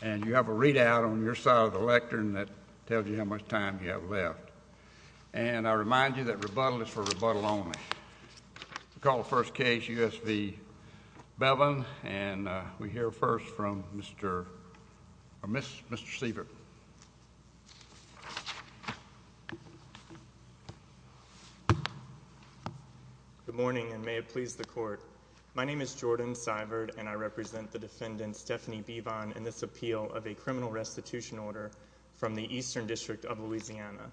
And you have a readout on your side of the lectern that tells you how much time you have left. And I remind you that rebuttal is for rebuttal only. We'll call the first case, U.S. v. Bevin. And we hear first from Mr. Sievert. My name is Jordan Sievert, and I represent the defendant Stephanie Bevin in this appeal of a criminal restitution order from the Eastern District of Louisiana.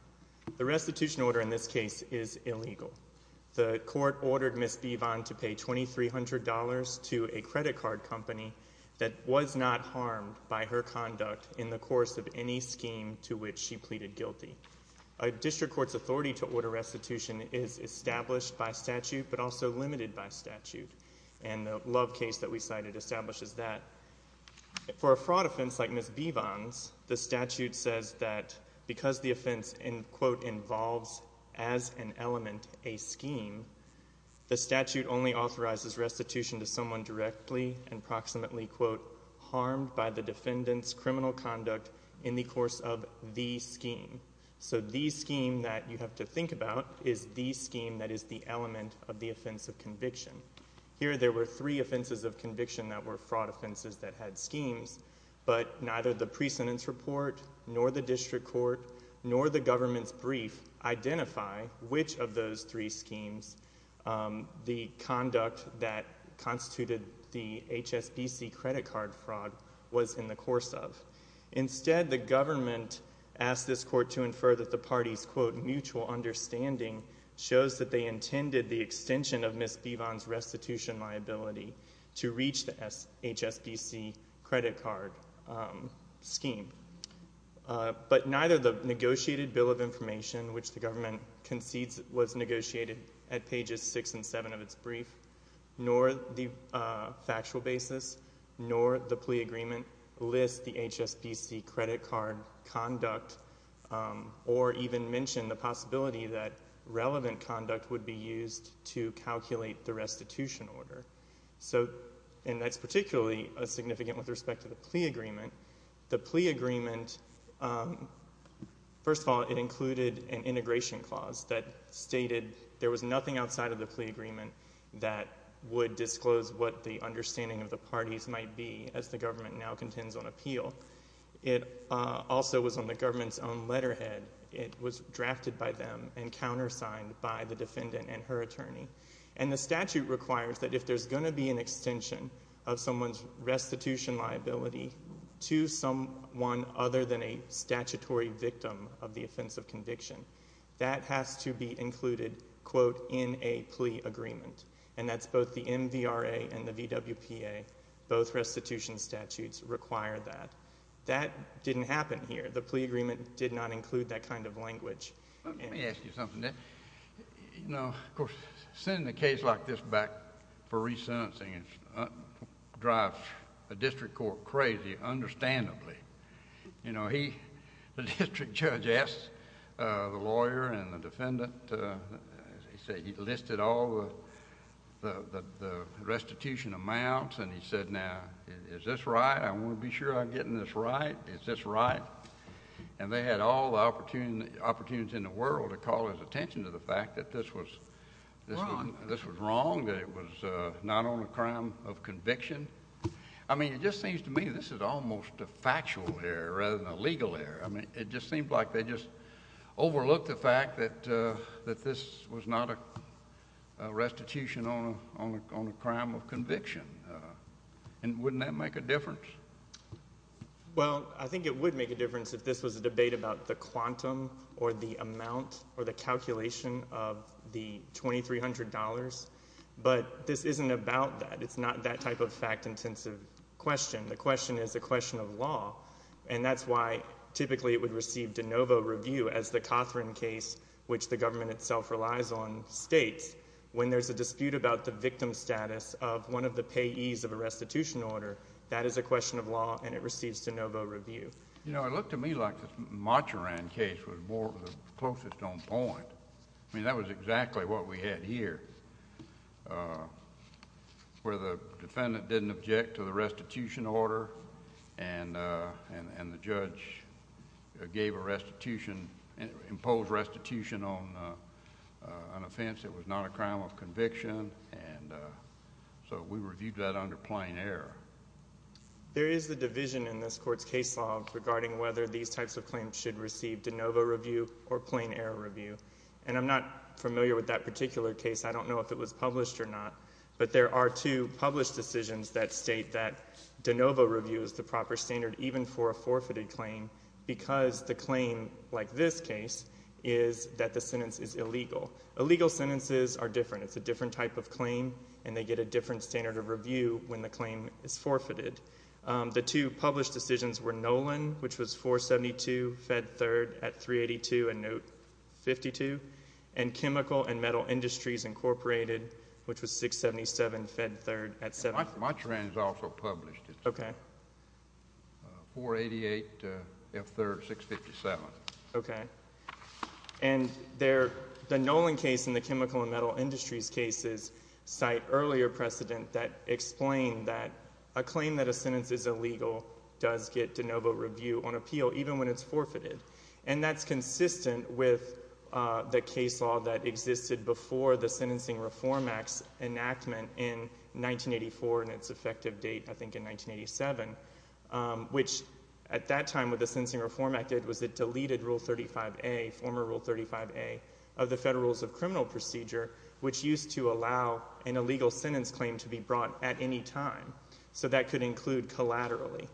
The restitution order in this case is illegal. The court ordered Ms. Bevin to pay $2,300 to a credit card company that was not harmed by her conduct in the course of any scheme to which she pleaded guilty. A district court's authority to order restitution is established by statute but also limited by statute. And the Love case that we cited establishes that. For a fraud offense like Ms. Bevin's, the statute says that because the offense, quote, involves as an element a scheme, the statute only authorizes restitution to someone directly and approximately, quote, harmed by the defendant's criminal conduct in the course of the scheme. So the scheme that you have to think about is the scheme that is the element of the offense of conviction. Here there were three offenses of conviction that were fraud offenses that had schemes. But neither the pre-sentence report nor the district court nor the government's brief identify which of those three schemes the conduct that constituted the HSBC credit card fraud was in the course of. Instead, the government asked this court to infer that the party's, quote, mutual understanding shows that they intended the extension of Ms. Bevin's restitution liability to reach the HSBC credit card scheme. But neither the negotiated bill of information, which the government concedes was negotiated at pages six and seven of its brief, nor the factual basis, nor the plea agreement list the HSBC credit card conduct or even mention the possibility that relevant conduct would be used to calculate the restitution order. So, and that's particularly significant with respect to the plea agreement. The plea agreement, first of all, it included an integration clause that stated there was nothing outside of the plea agreement that would disclose what the understanding of the parties might be as the government now contends on appeal. It also was on the government's own letterhead. It was drafted by them and countersigned by the defendant and her attorney. And the statute requires that if there's going to be an extension of someone's restitution liability to someone other than a statutory victim of the offense of conviction, that has to be included, quote, in a plea agreement. And that's both the MVRA and the VWPA. Both restitution statutes require that. That didn't happen here. The plea agreement did not include that kind of language. Let me ask you something. You know, of course, sending a case like this back for resentencing drives the district court crazy, understandably. You know, he, the district judge asked the lawyer and the defendant, he said he listed all the restitution amounts, and he said, now, is this right? I want to be sure I'm getting this right. Is this right? And they had all the opportunities in the world to call his attention to the fact that this was wrong, that it was not on a crime of conviction. I mean, it just seems to me this is almost a factual error rather than a legal error. I mean, it just seems like they just overlooked the fact that this was not a restitution on a crime of conviction. And wouldn't that make a difference? Well, I think it would make a difference if this was a debate about the quantum or the amount or the calculation of the $2,300. But this isn't about that. It's not that type of fact-intensive question. The question is a question of law. And that's why typically it would receive de novo review as the Cothran case, which the government itself relies on, states. When there's a dispute about the victim status of one of the payees of a restitution order, that is a question of law, and it receives de novo review. You know, it looked to me like this Macheran case was the closest on point. I mean, that was exactly what we had here, where the defendant didn't object to the restitution order, and the judge gave a restitution, imposed restitution on an offense that was not a crime of conviction. And so we reviewed that under plain error. There is a division in this Court's case law regarding whether these types of claims should receive de novo review or plain error review. And I'm not familiar with that particular case. I don't know if it was published or not. But there are two published decisions that state that de novo review is the proper standard, even for a forfeited claim, because the claim, like this case, is that the sentence is illegal. Illegal sentences are different. It's a different type of claim, and they get a different standard of review when the claim is forfeited. The two published decisions were Nolan, which was 472, fed third, at 382, and note 52, and Chemical and Metal Industries, Incorporated, which was 677, fed third, at 7. Macheran is also published. Okay. 488, F third, 657. Okay. And the Nolan case and the Chemical and Metal Industries cases cite earlier precedent that explain that a claim that a sentence is illegal does get de novo review on appeal, even when it's forfeited. And that's consistent with the case law that existed before the Sentencing Reform Act's enactment in 1984, and its effective date, I think, in 1987, which at that time what the Sentencing Reform Act did was it deleted Rule 35A, former Rule 35A, of the Federal Rules of Criminal Procedure, which used to allow an illegal sentence claim to be brought at any time. So that could include collaterally.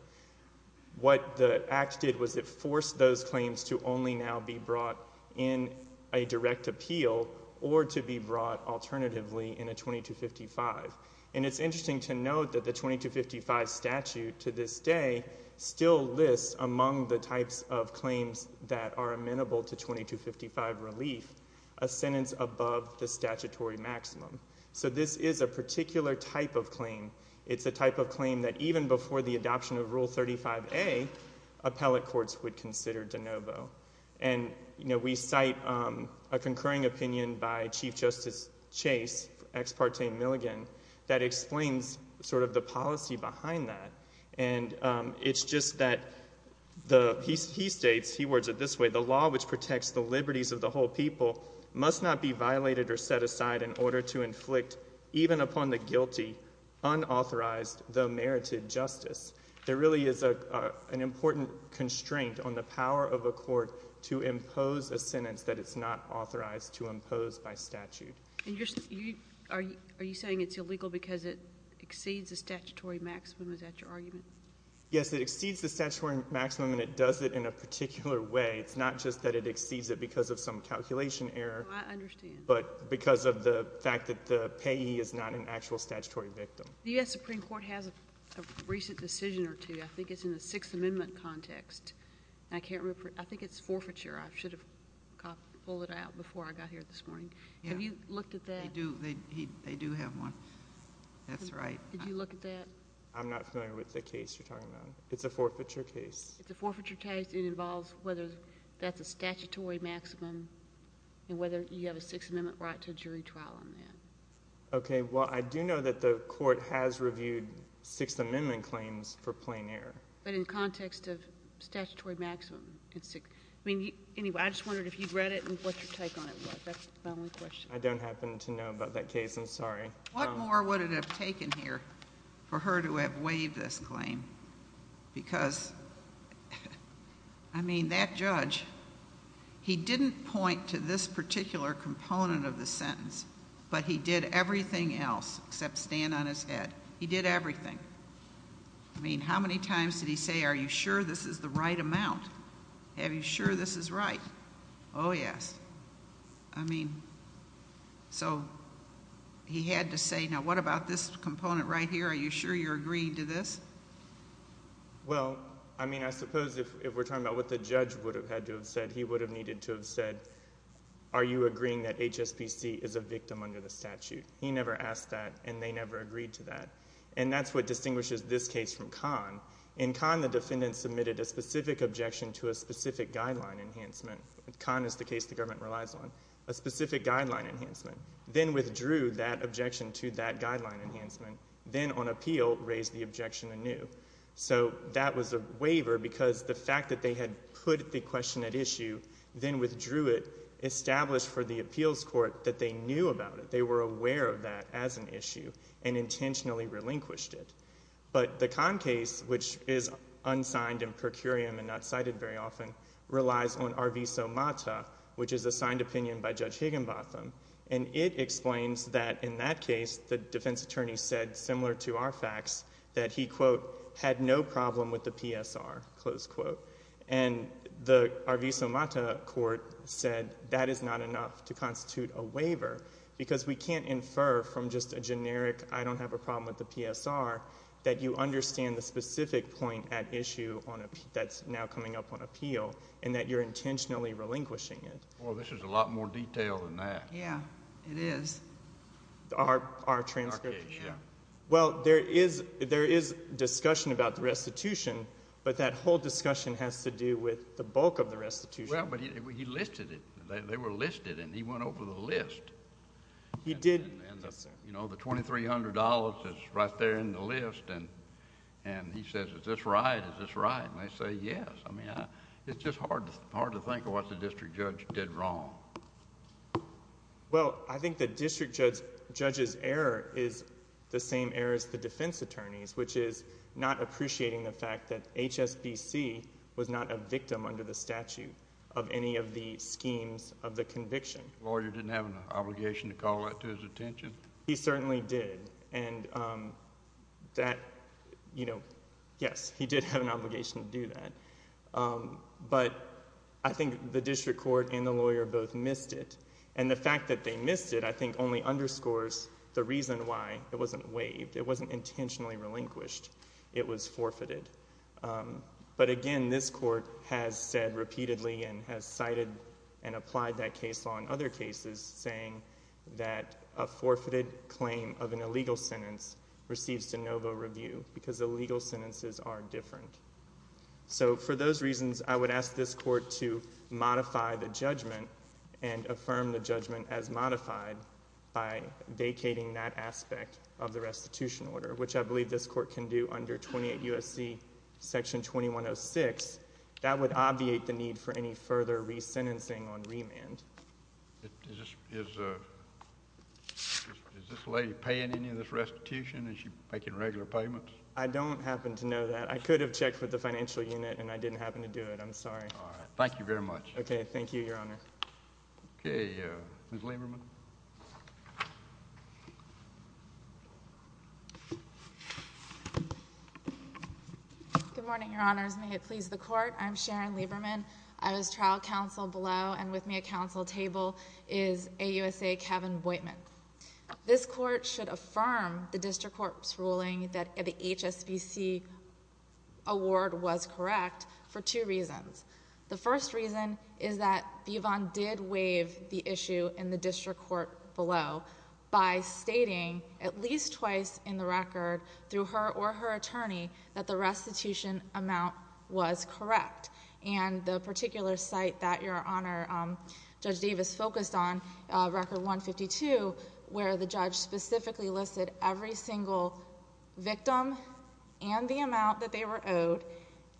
What the Act did was it forced those claims to only now be brought in a direct appeal or to be brought alternatively in a 2255. And it's interesting to note that the 2255 statute to this day still lists among the types of claims that are amenable to 2255 relief a sentence above the statutory maximum. So this is a particular type of claim. It's a type of claim that even before the adoption of Rule 35A, appellate courts would consider de novo. And, you know, we cite a concurring opinion by Chief Justice Chase, ex parte Milligan, that explains sort of the policy behind that. And it's just that he states, he words it this way, the law which protects the liberties of the whole people must not be violated or set aside in order to inflict, even upon the guilty, unauthorized, though merited justice. There really is an important constraint on the power of a court to impose a sentence that it's not authorized to impose by statute. Are you saying it's illegal because it exceeds the statutory maximum? Is that your argument? Yes, it exceeds the statutory maximum, and it does it in a particular way. It's not just that it exceeds it because of some calculation error. Oh, I understand. But because of the fact that the payee is not an actual statutory victim. The U.S. Supreme Court has a recent decision or two. I think it's in the Sixth Amendment context. I can't remember. I think it's forfeiture. I should have pulled it out before I got here this morning. Have you looked at that? They do have one. That's right. Did you look at that? I'm not familiar with the case you're talking about. It's a forfeiture case. It's a forfeiture case. It involves whether that's a statutory maximum and whether you have a Sixth Amendment right to jury trial on that. Okay. Well, I do know that the Court has reviewed Sixth Amendment claims for plain error. But in context of statutory maximum. I mean, anyway, I just wondered if you'd read it and what your take on it was. That's my only question. I don't happen to know about that case. I'm sorry. What more would it have taken here for her to have waived this claim? Because, I mean, that judge, he didn't point to this particular component of the sentence, but he did everything else except stand on his head. He did everything. I mean, how many times did he say, are you sure this is the right amount? Are you sure this is right? Oh, yes. I mean, so he had to say, now what about this component right here? Are you sure you're agreeing to this? Well, I mean, I suppose if we're talking about what the judge would have had to have said, he would have needed to have said, are you agreeing that HSBC is a victim under the statute? He never asked that, and they never agreed to that. And that's what distinguishes this case from Kahn. In Kahn, the defendant submitted a specific objection to a specific guideline enhancement. Kahn is the case the government relies on. A specific guideline enhancement. Then withdrew that objection to that guideline enhancement. Then, on appeal, raised the objection anew. So that was a waiver because the fact that they had put the question at issue, then withdrew it, established for the appeals court that they knew about it. They were aware of that as an issue and intentionally relinquished it. But the Kahn case, which is unsigned and per curiam and not cited very often, relies on Arviso Mata, which is a signed opinion by Judge Higginbotham. And it explains that, in that case, the defense attorney said, similar to our facts, that he, quote, had no problem with the PSR, close quote. And the Arviso Mata court said that is not enough to constitute a waiver because we can't infer from just a generic, I don't have a problem with the PSR, that you understand the specific point at issue that's now coming up on appeal and that you're intentionally relinquishing it. Well, this is a lot more detailed than that. Yeah, it is. Our transcript? Our case, yeah. Well, there is discussion about the restitution, but that whole discussion has to do with the bulk of the restitution. Well, but he listed it. They were listed, and he went over the list. He did. And, you know, the $2,300 is right there in the list, and he says, is this right? Is this right? And they say, yes. I mean, it's just hard to think of what the district judge did wrong. Well, I think the district judge's error is the same error as the defense attorney's, which is not appreciating the fact that HSBC was not a victim under the statute of any of the schemes of the conviction. The lawyer didn't have an obligation to call that to his attention? He certainly did. And that, you know, yes, he did have an obligation to do that. But I think the district court and the lawyer both missed it. And the fact that they missed it I think only underscores the reason why it wasn't waived. It wasn't intentionally relinquished. It was forfeited. But, again, this court has said repeatedly and has cited and applied that case law and other cases saying that a forfeited claim of an illegal sentence receives de novo review because the legal sentences are different. So for those reasons, I would ask this court to modify the judgment and affirm the judgment as modified by vacating that aspect of the restitution order, which I believe this court can do under 28 U.S.C. Section 2106. That would obviate the need for any further resentencing on remand. Is this lady paying any of this restitution? Is she making regular payments? I don't happen to know that. I could have checked with the financial unit, and I didn't happen to do it. I'm sorry. All right. Thank you very much. Okay. Thank you, Your Honor. Okay. Ms. Lieberman. Good morning, Your Honors. May it please the Court. I'm Sharon Lieberman. I was trial counsel below, and with me at counsel table is AUSA Kevin Boitman. This court should affirm the district court's ruling that the HSBC award was correct for two reasons. The first reason is that Bivon did waive the issue in the district court below by stating at least twice in the record through her or her attorney that the restitution amount was correct. And the particular site that, Your Honor, Judge Davis focused on, Record 152, where the judge specifically listed every single victim and the amount that they were owed,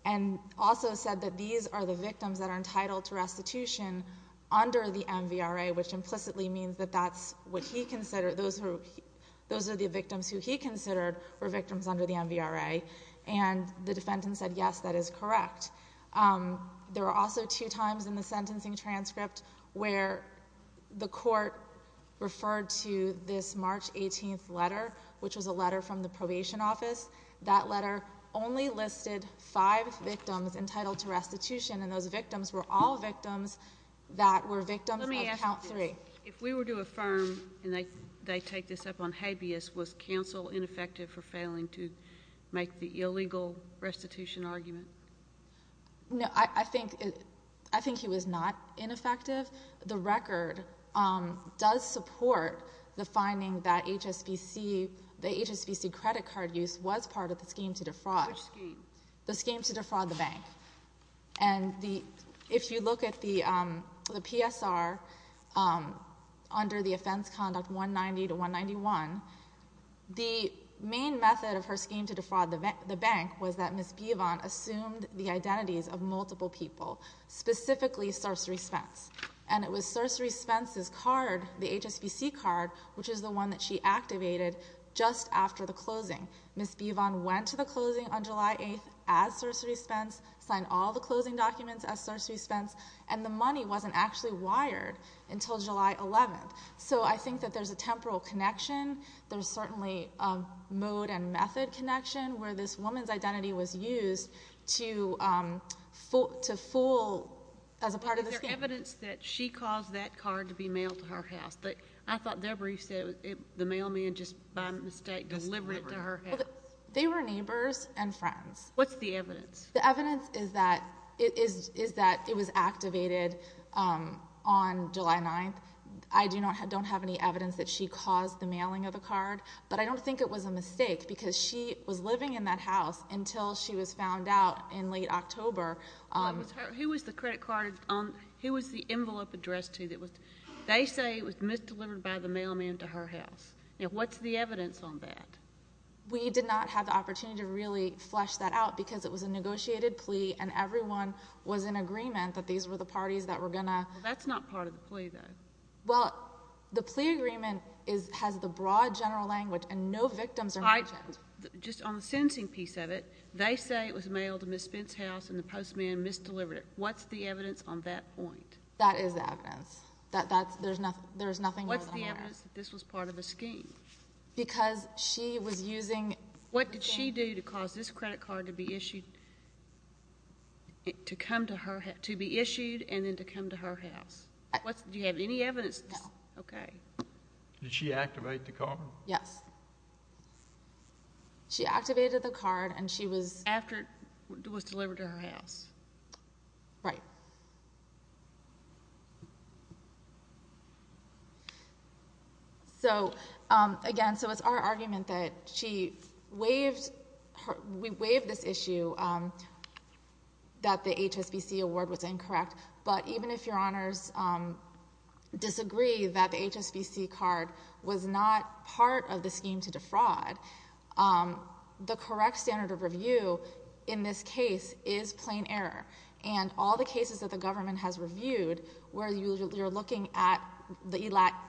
and also said that these are the victims that are entitled to restitution under the MVRA, which implicitly means that those are the victims who he considered were victims under the MVRA. And the defendant said, yes, that is correct. There were also two times in the sentencing transcript where the court referred to this March 18th letter, which was a letter from the probation office. That letter only listed five victims entitled to restitution, and those victims were all victims that were victims of count three. Let me ask you this. If we were to affirm, and they take this up on habeas, was counsel ineffective for failing to make the illegal restitution argument? No, I think he was not ineffective. The record does support the finding that the HSBC credit card use was part of the scheme to defraud. Which scheme? The scheme to defraud the bank. And if you look at the PSR under the offense conduct 190 to 191, the main method of her scheme to defraud the bank was that Ms. Bivon assumed the identities of multiple people, specifically Cerceri Spence. And it was Cerceri Spence's card, the HSBC card, which is the one that she activated just after the closing. Ms. Bivon went to the closing on July 8th as Cerceri Spence, signed all the closing documents as Cerceri Spence, and the money wasn't actually wired until July 11th. So I think that there's a temporal connection. There's certainly a mode and method connection where this woman's identity was used to fool as a part of the scheme. Is there evidence that she caused that card to be mailed to her house? I thought their brief said the mailman just by mistake delivered it to her house. They were neighbors and friends. What's the evidence? The evidence is that it was activated on July 9th. I don't have any evidence that she caused the mailing of the card, but I don't think it was a mistake because she was living in that house until she was found out in late October. Who was the envelope addressed to? They say it was misdelivered by the mailman to her house. What's the evidence on that? We did not have the opportunity to really flesh that out because it was a negotiated plea and everyone was in agreement that these were the parties that were going to— That's not part of the plea, though. Well, the plea agreement has the broad general language and no victims are mentioned. Just on the sentencing piece of it, they say it was mailed to Ms. Spence's house and the postman misdelivered it. What's the evidence on that point? That is the evidence. There's nothing more than that. What's the evidence that this was part of a scheme? Because she was using— What did she do to cause this credit card to be issued and then to come to her house? Do you have any evidence? No. Okay. Did she activate the card? Yes. She activated the card and she was— After it was delivered to her house. Right. So, again, so it's our argument that she waived—we waived this issue that the HSBC award was incorrect, but even if Your Honors disagree that the HSBC card was not part of the scheme to defraud, the correct standard of review in this case is plain error. And all the cases that the government has reviewed where you're looking at the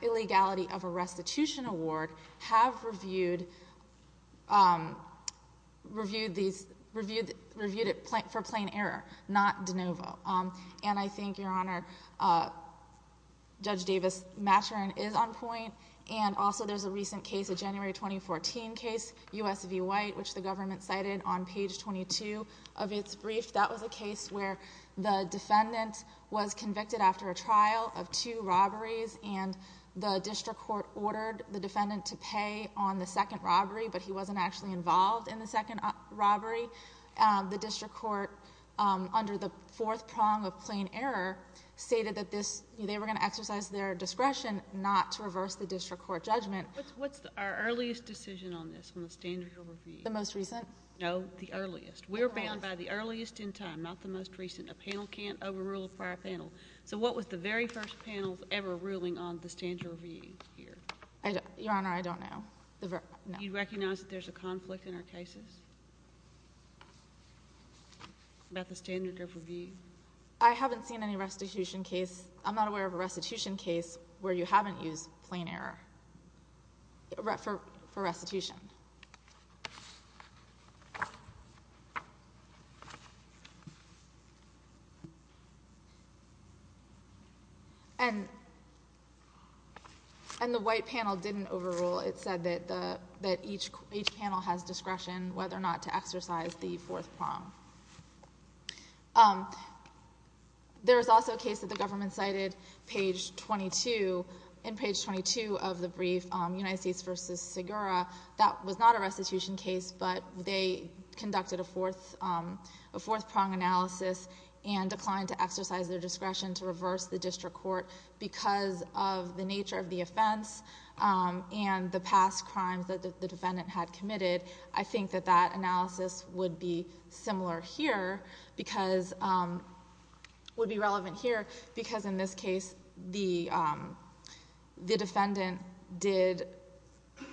illegality of a restitution award have reviewed these—reviewed it for plain error, not de novo. And I think, Your Honor, Judge Davis-Maturin is on point. And also there's a recent case, a January 2014 case, U.S. v. White, which the government cited on page 22 of its brief. That was a case where the defendant was convicted after a trial of two robberies and the district court ordered the defendant to pay on the second robbery, but he wasn't actually involved in the second robbery. The district court, under the fourth prong of plain error, stated that this—they were going to exercise their discretion not to reverse the district court judgment. What's our earliest decision on this, on the standard of review? The most recent? No, the earliest. We're bound by the earliest in time, not the most recent. A panel can't overrule a prior panel. So what was the very first panel ever ruling on the standard of review here? Your Honor, I don't know. You recognize that there's a conflict in our cases about the standard of review? I haven't seen any restitution case. I'm not aware of a restitution case where you haven't used plain error for restitution. And the White panel didn't overrule. It said that each panel has discretion whether or not to exercise the fourth prong. There is also a case that the government cited, page 22. In page 22 of the brief, United States v. Segura, that was not a restitution case, but they conducted a fourth prong analysis and declined to exercise their discretion to reverse the district court because of the nature of the offense and the past crimes that the defendant had committed. I think that that analysis would be similar here, would be relevant here because in this case the defendant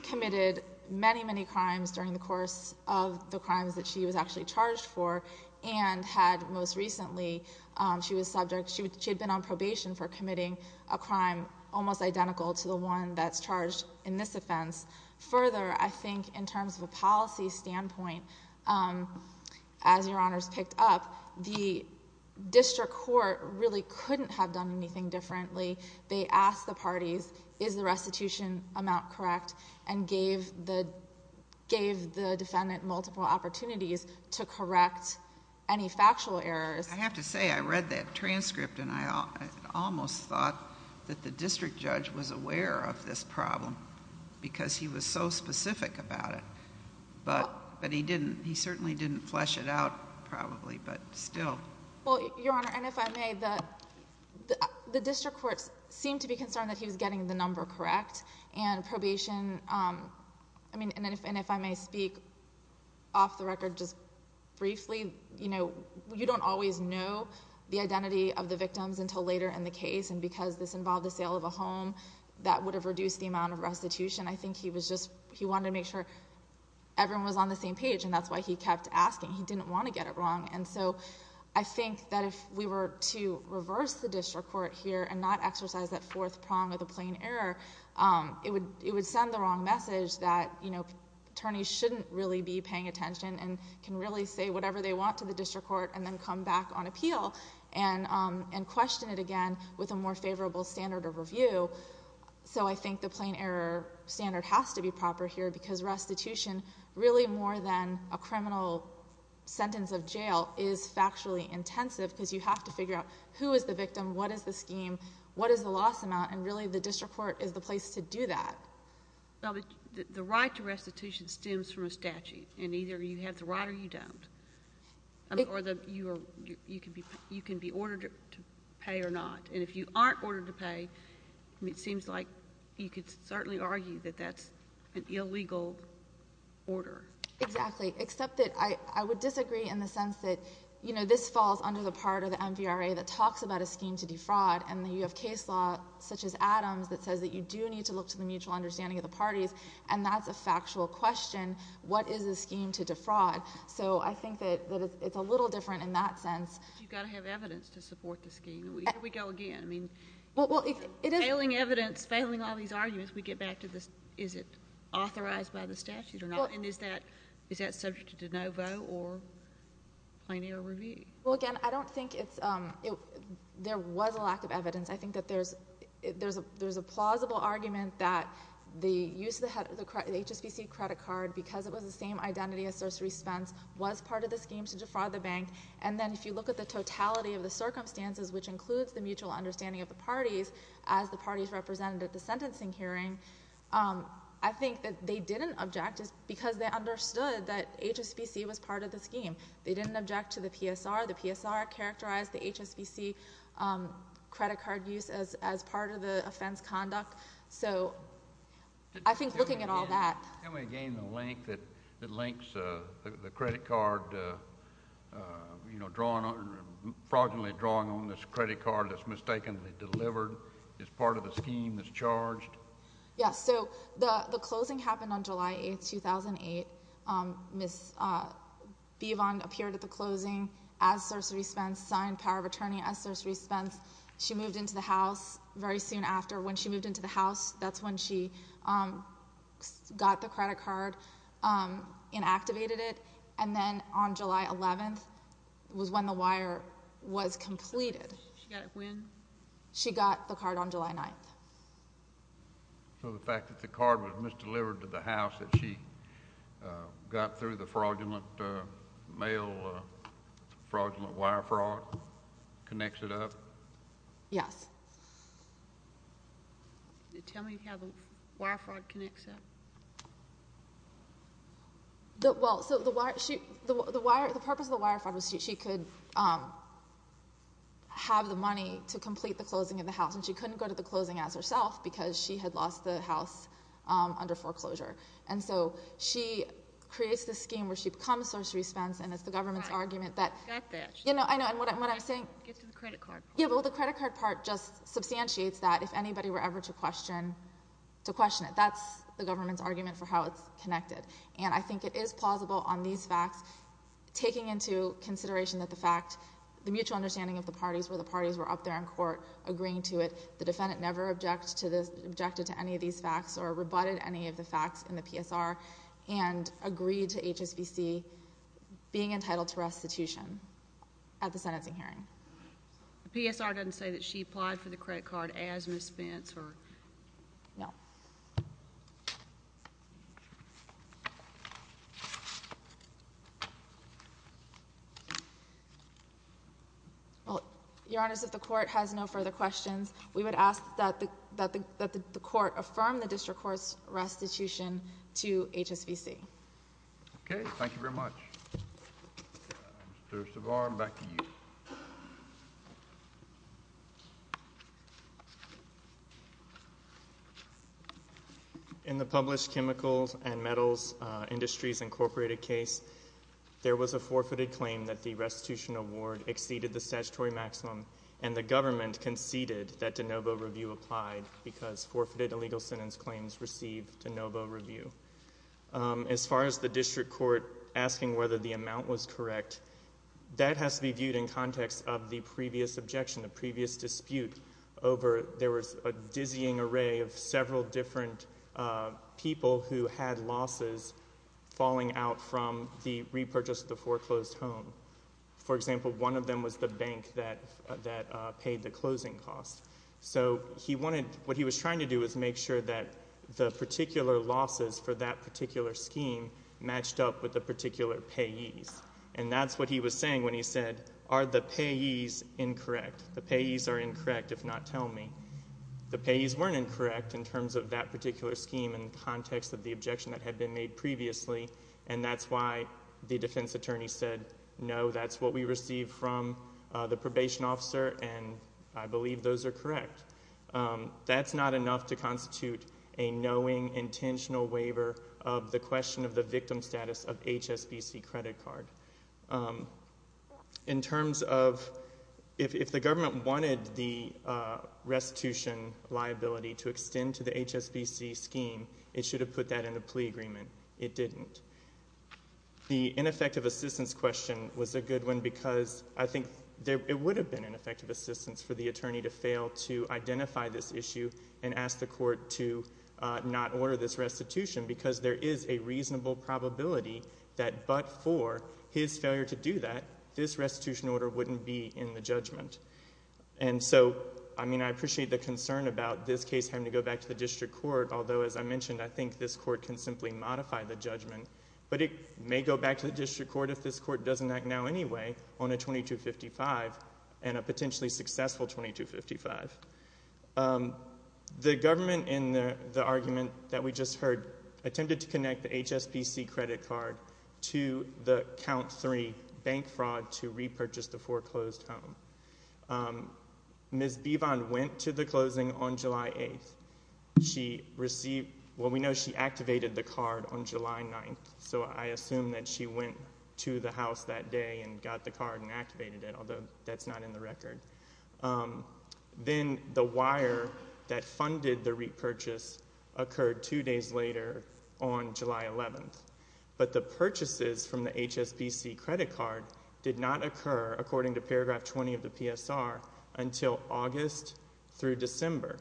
committed many, many crimes during the course of the crimes that she was actually charged for and had most recently, she had been on probation for committing a crime almost identical to the one that's charged in this offense. Further, I think in terms of a policy standpoint, as Your Honors picked up, the district court really couldn't have done anything differently. They asked the parties, is the restitution amount correct, and gave the defendant multiple opportunities to correct any factual errors. I have to say, I read that transcript and I almost thought that the district judge was aware of this problem because he was so specific about it, but he certainly didn't flesh it out probably, but still. Well, Your Honor, and if I may, the district courts seemed to be concerned that he was getting the number correct and probation, and if I may speak off the record just briefly, you don't always know the identity of the victims until later in the case, and because this involved the sale of a home, that would have reduced the amount of restitution. I think he wanted to make sure everyone was on the same page, and that's why he kept asking. He didn't want to get it wrong, and so I think that if we were to reverse the district court here and not exercise that fourth prong of the plain error, it would send the wrong message that attorneys shouldn't really be paying attention and can really say whatever they want to the district court and then come back on appeal and question it again with a more favorable standard of review. So I think the plain error standard has to be proper here because restitution, really more than a criminal sentence of jail, is factually intensive because you have to figure out who is the victim, what is the scheme, what is the loss amount, and really the district court is the place to do that. Well, the right to restitution stems from a statute, and either you have the right or you don't, or you can be ordered to pay or not, and if you aren't ordered to pay, it seems like you could certainly argue that that's an illegal order. Exactly, except that I would disagree in the sense that, you know, this falls under the part of the MVRA that talks about a scheme to defraud, and then you have case law such as Adams that says that you do need to look to the mutual understanding of the parties, and that's a factual question. What is a scheme to defraud? So I think that it's a little different in that sense. But you've got to have evidence to support the scheme. Here we go again. I mean, failing evidence, failing all these arguments, we get back to is it authorized by the statute or not, and is that subject to no vote or plain error review? Well, again, I don't think there was a lack of evidence. I think that there's a plausible argument that the use of the HSBC credit card, because it was the same identity as Cerceri Spence, was part of the scheme to defraud the bank, and then if you look at the totality of the circumstances, which includes the mutual understanding of the parties, as the parties represented at the sentencing hearing, I think that they didn't object because they understood that HSBC was part of the scheme. They didn't object to the PSR. The PSR characterized the HSBC credit card use as part of the offense conduct. So I think looking at all that. Can we gain the link that links the credit card, you know, fraudulently drawing on this credit card that's mistakenly delivered as part of the scheme that's charged? Yes. So the closing happened on July 8, 2008. Ms. Bivon appeared at the closing as Cerceri Spence, signed power of attorney as Cerceri Spence. She moved into the house very soon after. When she moved into the house, that's when she got the credit card and activated it, and then on July 11th was when the wire was completed. She got it when? So the fact that the card was misdelivered to the house that she got through the fraudulent mail, fraudulent wire fraud, connects it up? Yes. Tell me how the wire fraud connects up. Well, so the purpose of the wire fraud was she could have the money to complete the closing of the house, and she couldn't go to the closing house herself because she had lost the house under foreclosure. And so she creates this scheme where she becomes Cerceri Spence, and it's the government's argument that you know, I know, and what I'm saying, Get to the credit card part. Yeah, well, the credit card part just substantiates that if anybody were ever to question it, that's the government's argument for how it's connected. And I think it is plausible on these facts taking into consideration that the fact, the mutual understanding of the parties where the parties were up there in court agreeing to it, the defendant never objected to any of these facts or rebutted any of the facts in the PSR and agreed to HSBC being entitled to restitution at the sentencing hearing. The PSR doesn't say that she applied for the credit card as Ms. Spence or? No. Well, Your Honor, if the court has no further questions, we would ask that the court affirm the district court's restitution to HSBC. Okay. Thank you very much. Mr. Savar, back to you. In the published chemicals and metals industries incorporated case, there was a forfeited claim that the restitution award exceeded the statutory maximum, and the government conceded that de novo review applied because forfeited illegal sentence claims received de novo review. As far as the district court asking whether the amount was correct, that has to be viewed in context of the previous objection, the previous dispute. There was a dizzying array of several different people who had losses falling out from the repurchase of the foreclosed home. For example, one of them was the bank that paid the closing costs. So what he was trying to do was make sure that the particular losses for that particular scheme matched up with the particular payees. And that's what he was saying when he said, are the payees incorrect? The payees are incorrect if not tell me. The payees weren't incorrect in terms of that particular scheme in the context of the objection that had been made previously, and that's why the defense attorney said, no, that's what we received from the probation officer, and I believe those are correct. That's not enough to constitute a knowing, intentional waiver of the question of the victim status of HSBC credit card. In terms of if the government wanted the restitution liability to extend to the HSBC scheme, it should have put that in a plea agreement. It didn't. The ineffective assistance question was a good one because I think it would have been an effective assistance for the attorney to fail to identify this issue and ask the court to not order this restitution because there is a reasonable probability that but for his failure to do that, this restitution order wouldn't be in the judgment. And so, I mean, I appreciate the concern about this case having to go back to the district court, although, as I mentioned, I think this court can simply modify the judgment, but it may go back to the district court if this court doesn't act now anyway on a 2255 and a potentially successful 2255. The government, in the argument that we just heard, attempted to connect the HSBC credit card to the count three bank fraud to repurchase the foreclosed home. Ms. Bivon went to the closing on July 8th. She received, well, we know she activated the card on July 9th, so I assume that she went to the house that day and got the card and activated it, although that's not in the record. Then the wire that funded the repurchase occurred two days later on July 11th, but the purchases from the HSBC credit card did not occur, according to paragraph 20 of the PSR, until August through December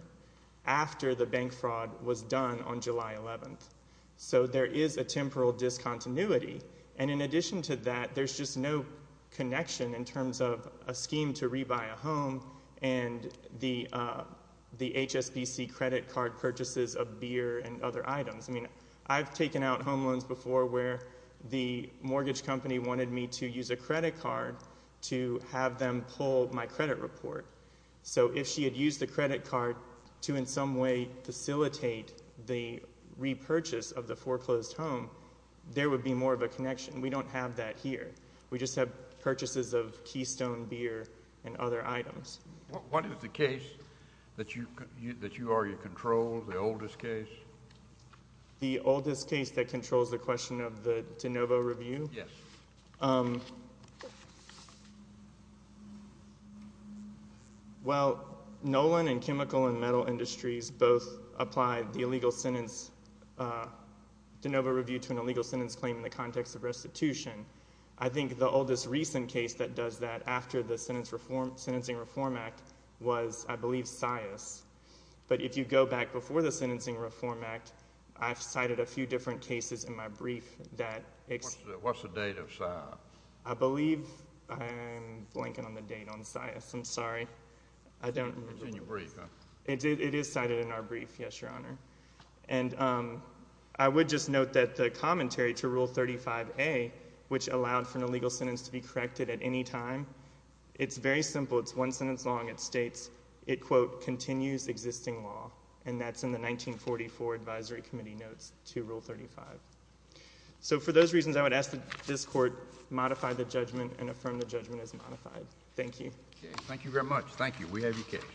after the bank fraud was done on July 11th. So there is a temporal discontinuity, and in addition to that, there's just no connection in terms of a scheme to rebuy a home and the HSBC credit card purchases of beer and other items. I mean, I've taken out home loans before where the mortgage company wanted me to use a credit card to have them pull my credit report. So if she had used the credit card to in some way facilitate the repurchase of the foreclosed home, there would be more of a connection. We don't have that here. We just have purchases of Keystone beer and other items. What is the case that you argue controls, the oldest case? The oldest case that controls the question of the de novo review? Yes. Well, Nolan and Chemical and Metal Industries both applied the illegal sentence de novo review to an illegal sentence claim in the context of restitution. I think the oldest recent case that does that after the Sentencing Reform Act was, I believe, Sias. But if you go back before the Sentencing Reform Act, I've cited a few different cases in my brief that— What's the date of Sias? I believe I'm blanking on the date on Sias. I'm sorry. It's in your brief, huh? It is cited in our brief, yes, Your Honor. And I would just note that the commentary to Rule 35A, which allowed for an illegal sentence to be corrected at any time, it's very simple. It's one sentence long. It states it, quote, continues existing law. And that's in the 1944 Advisory Committee notes to Rule 35. So for those reasons, I would ask that this Court modify the judgment and affirm the judgment as modified. Thank you. Thank you very much. Thank you. We have your case.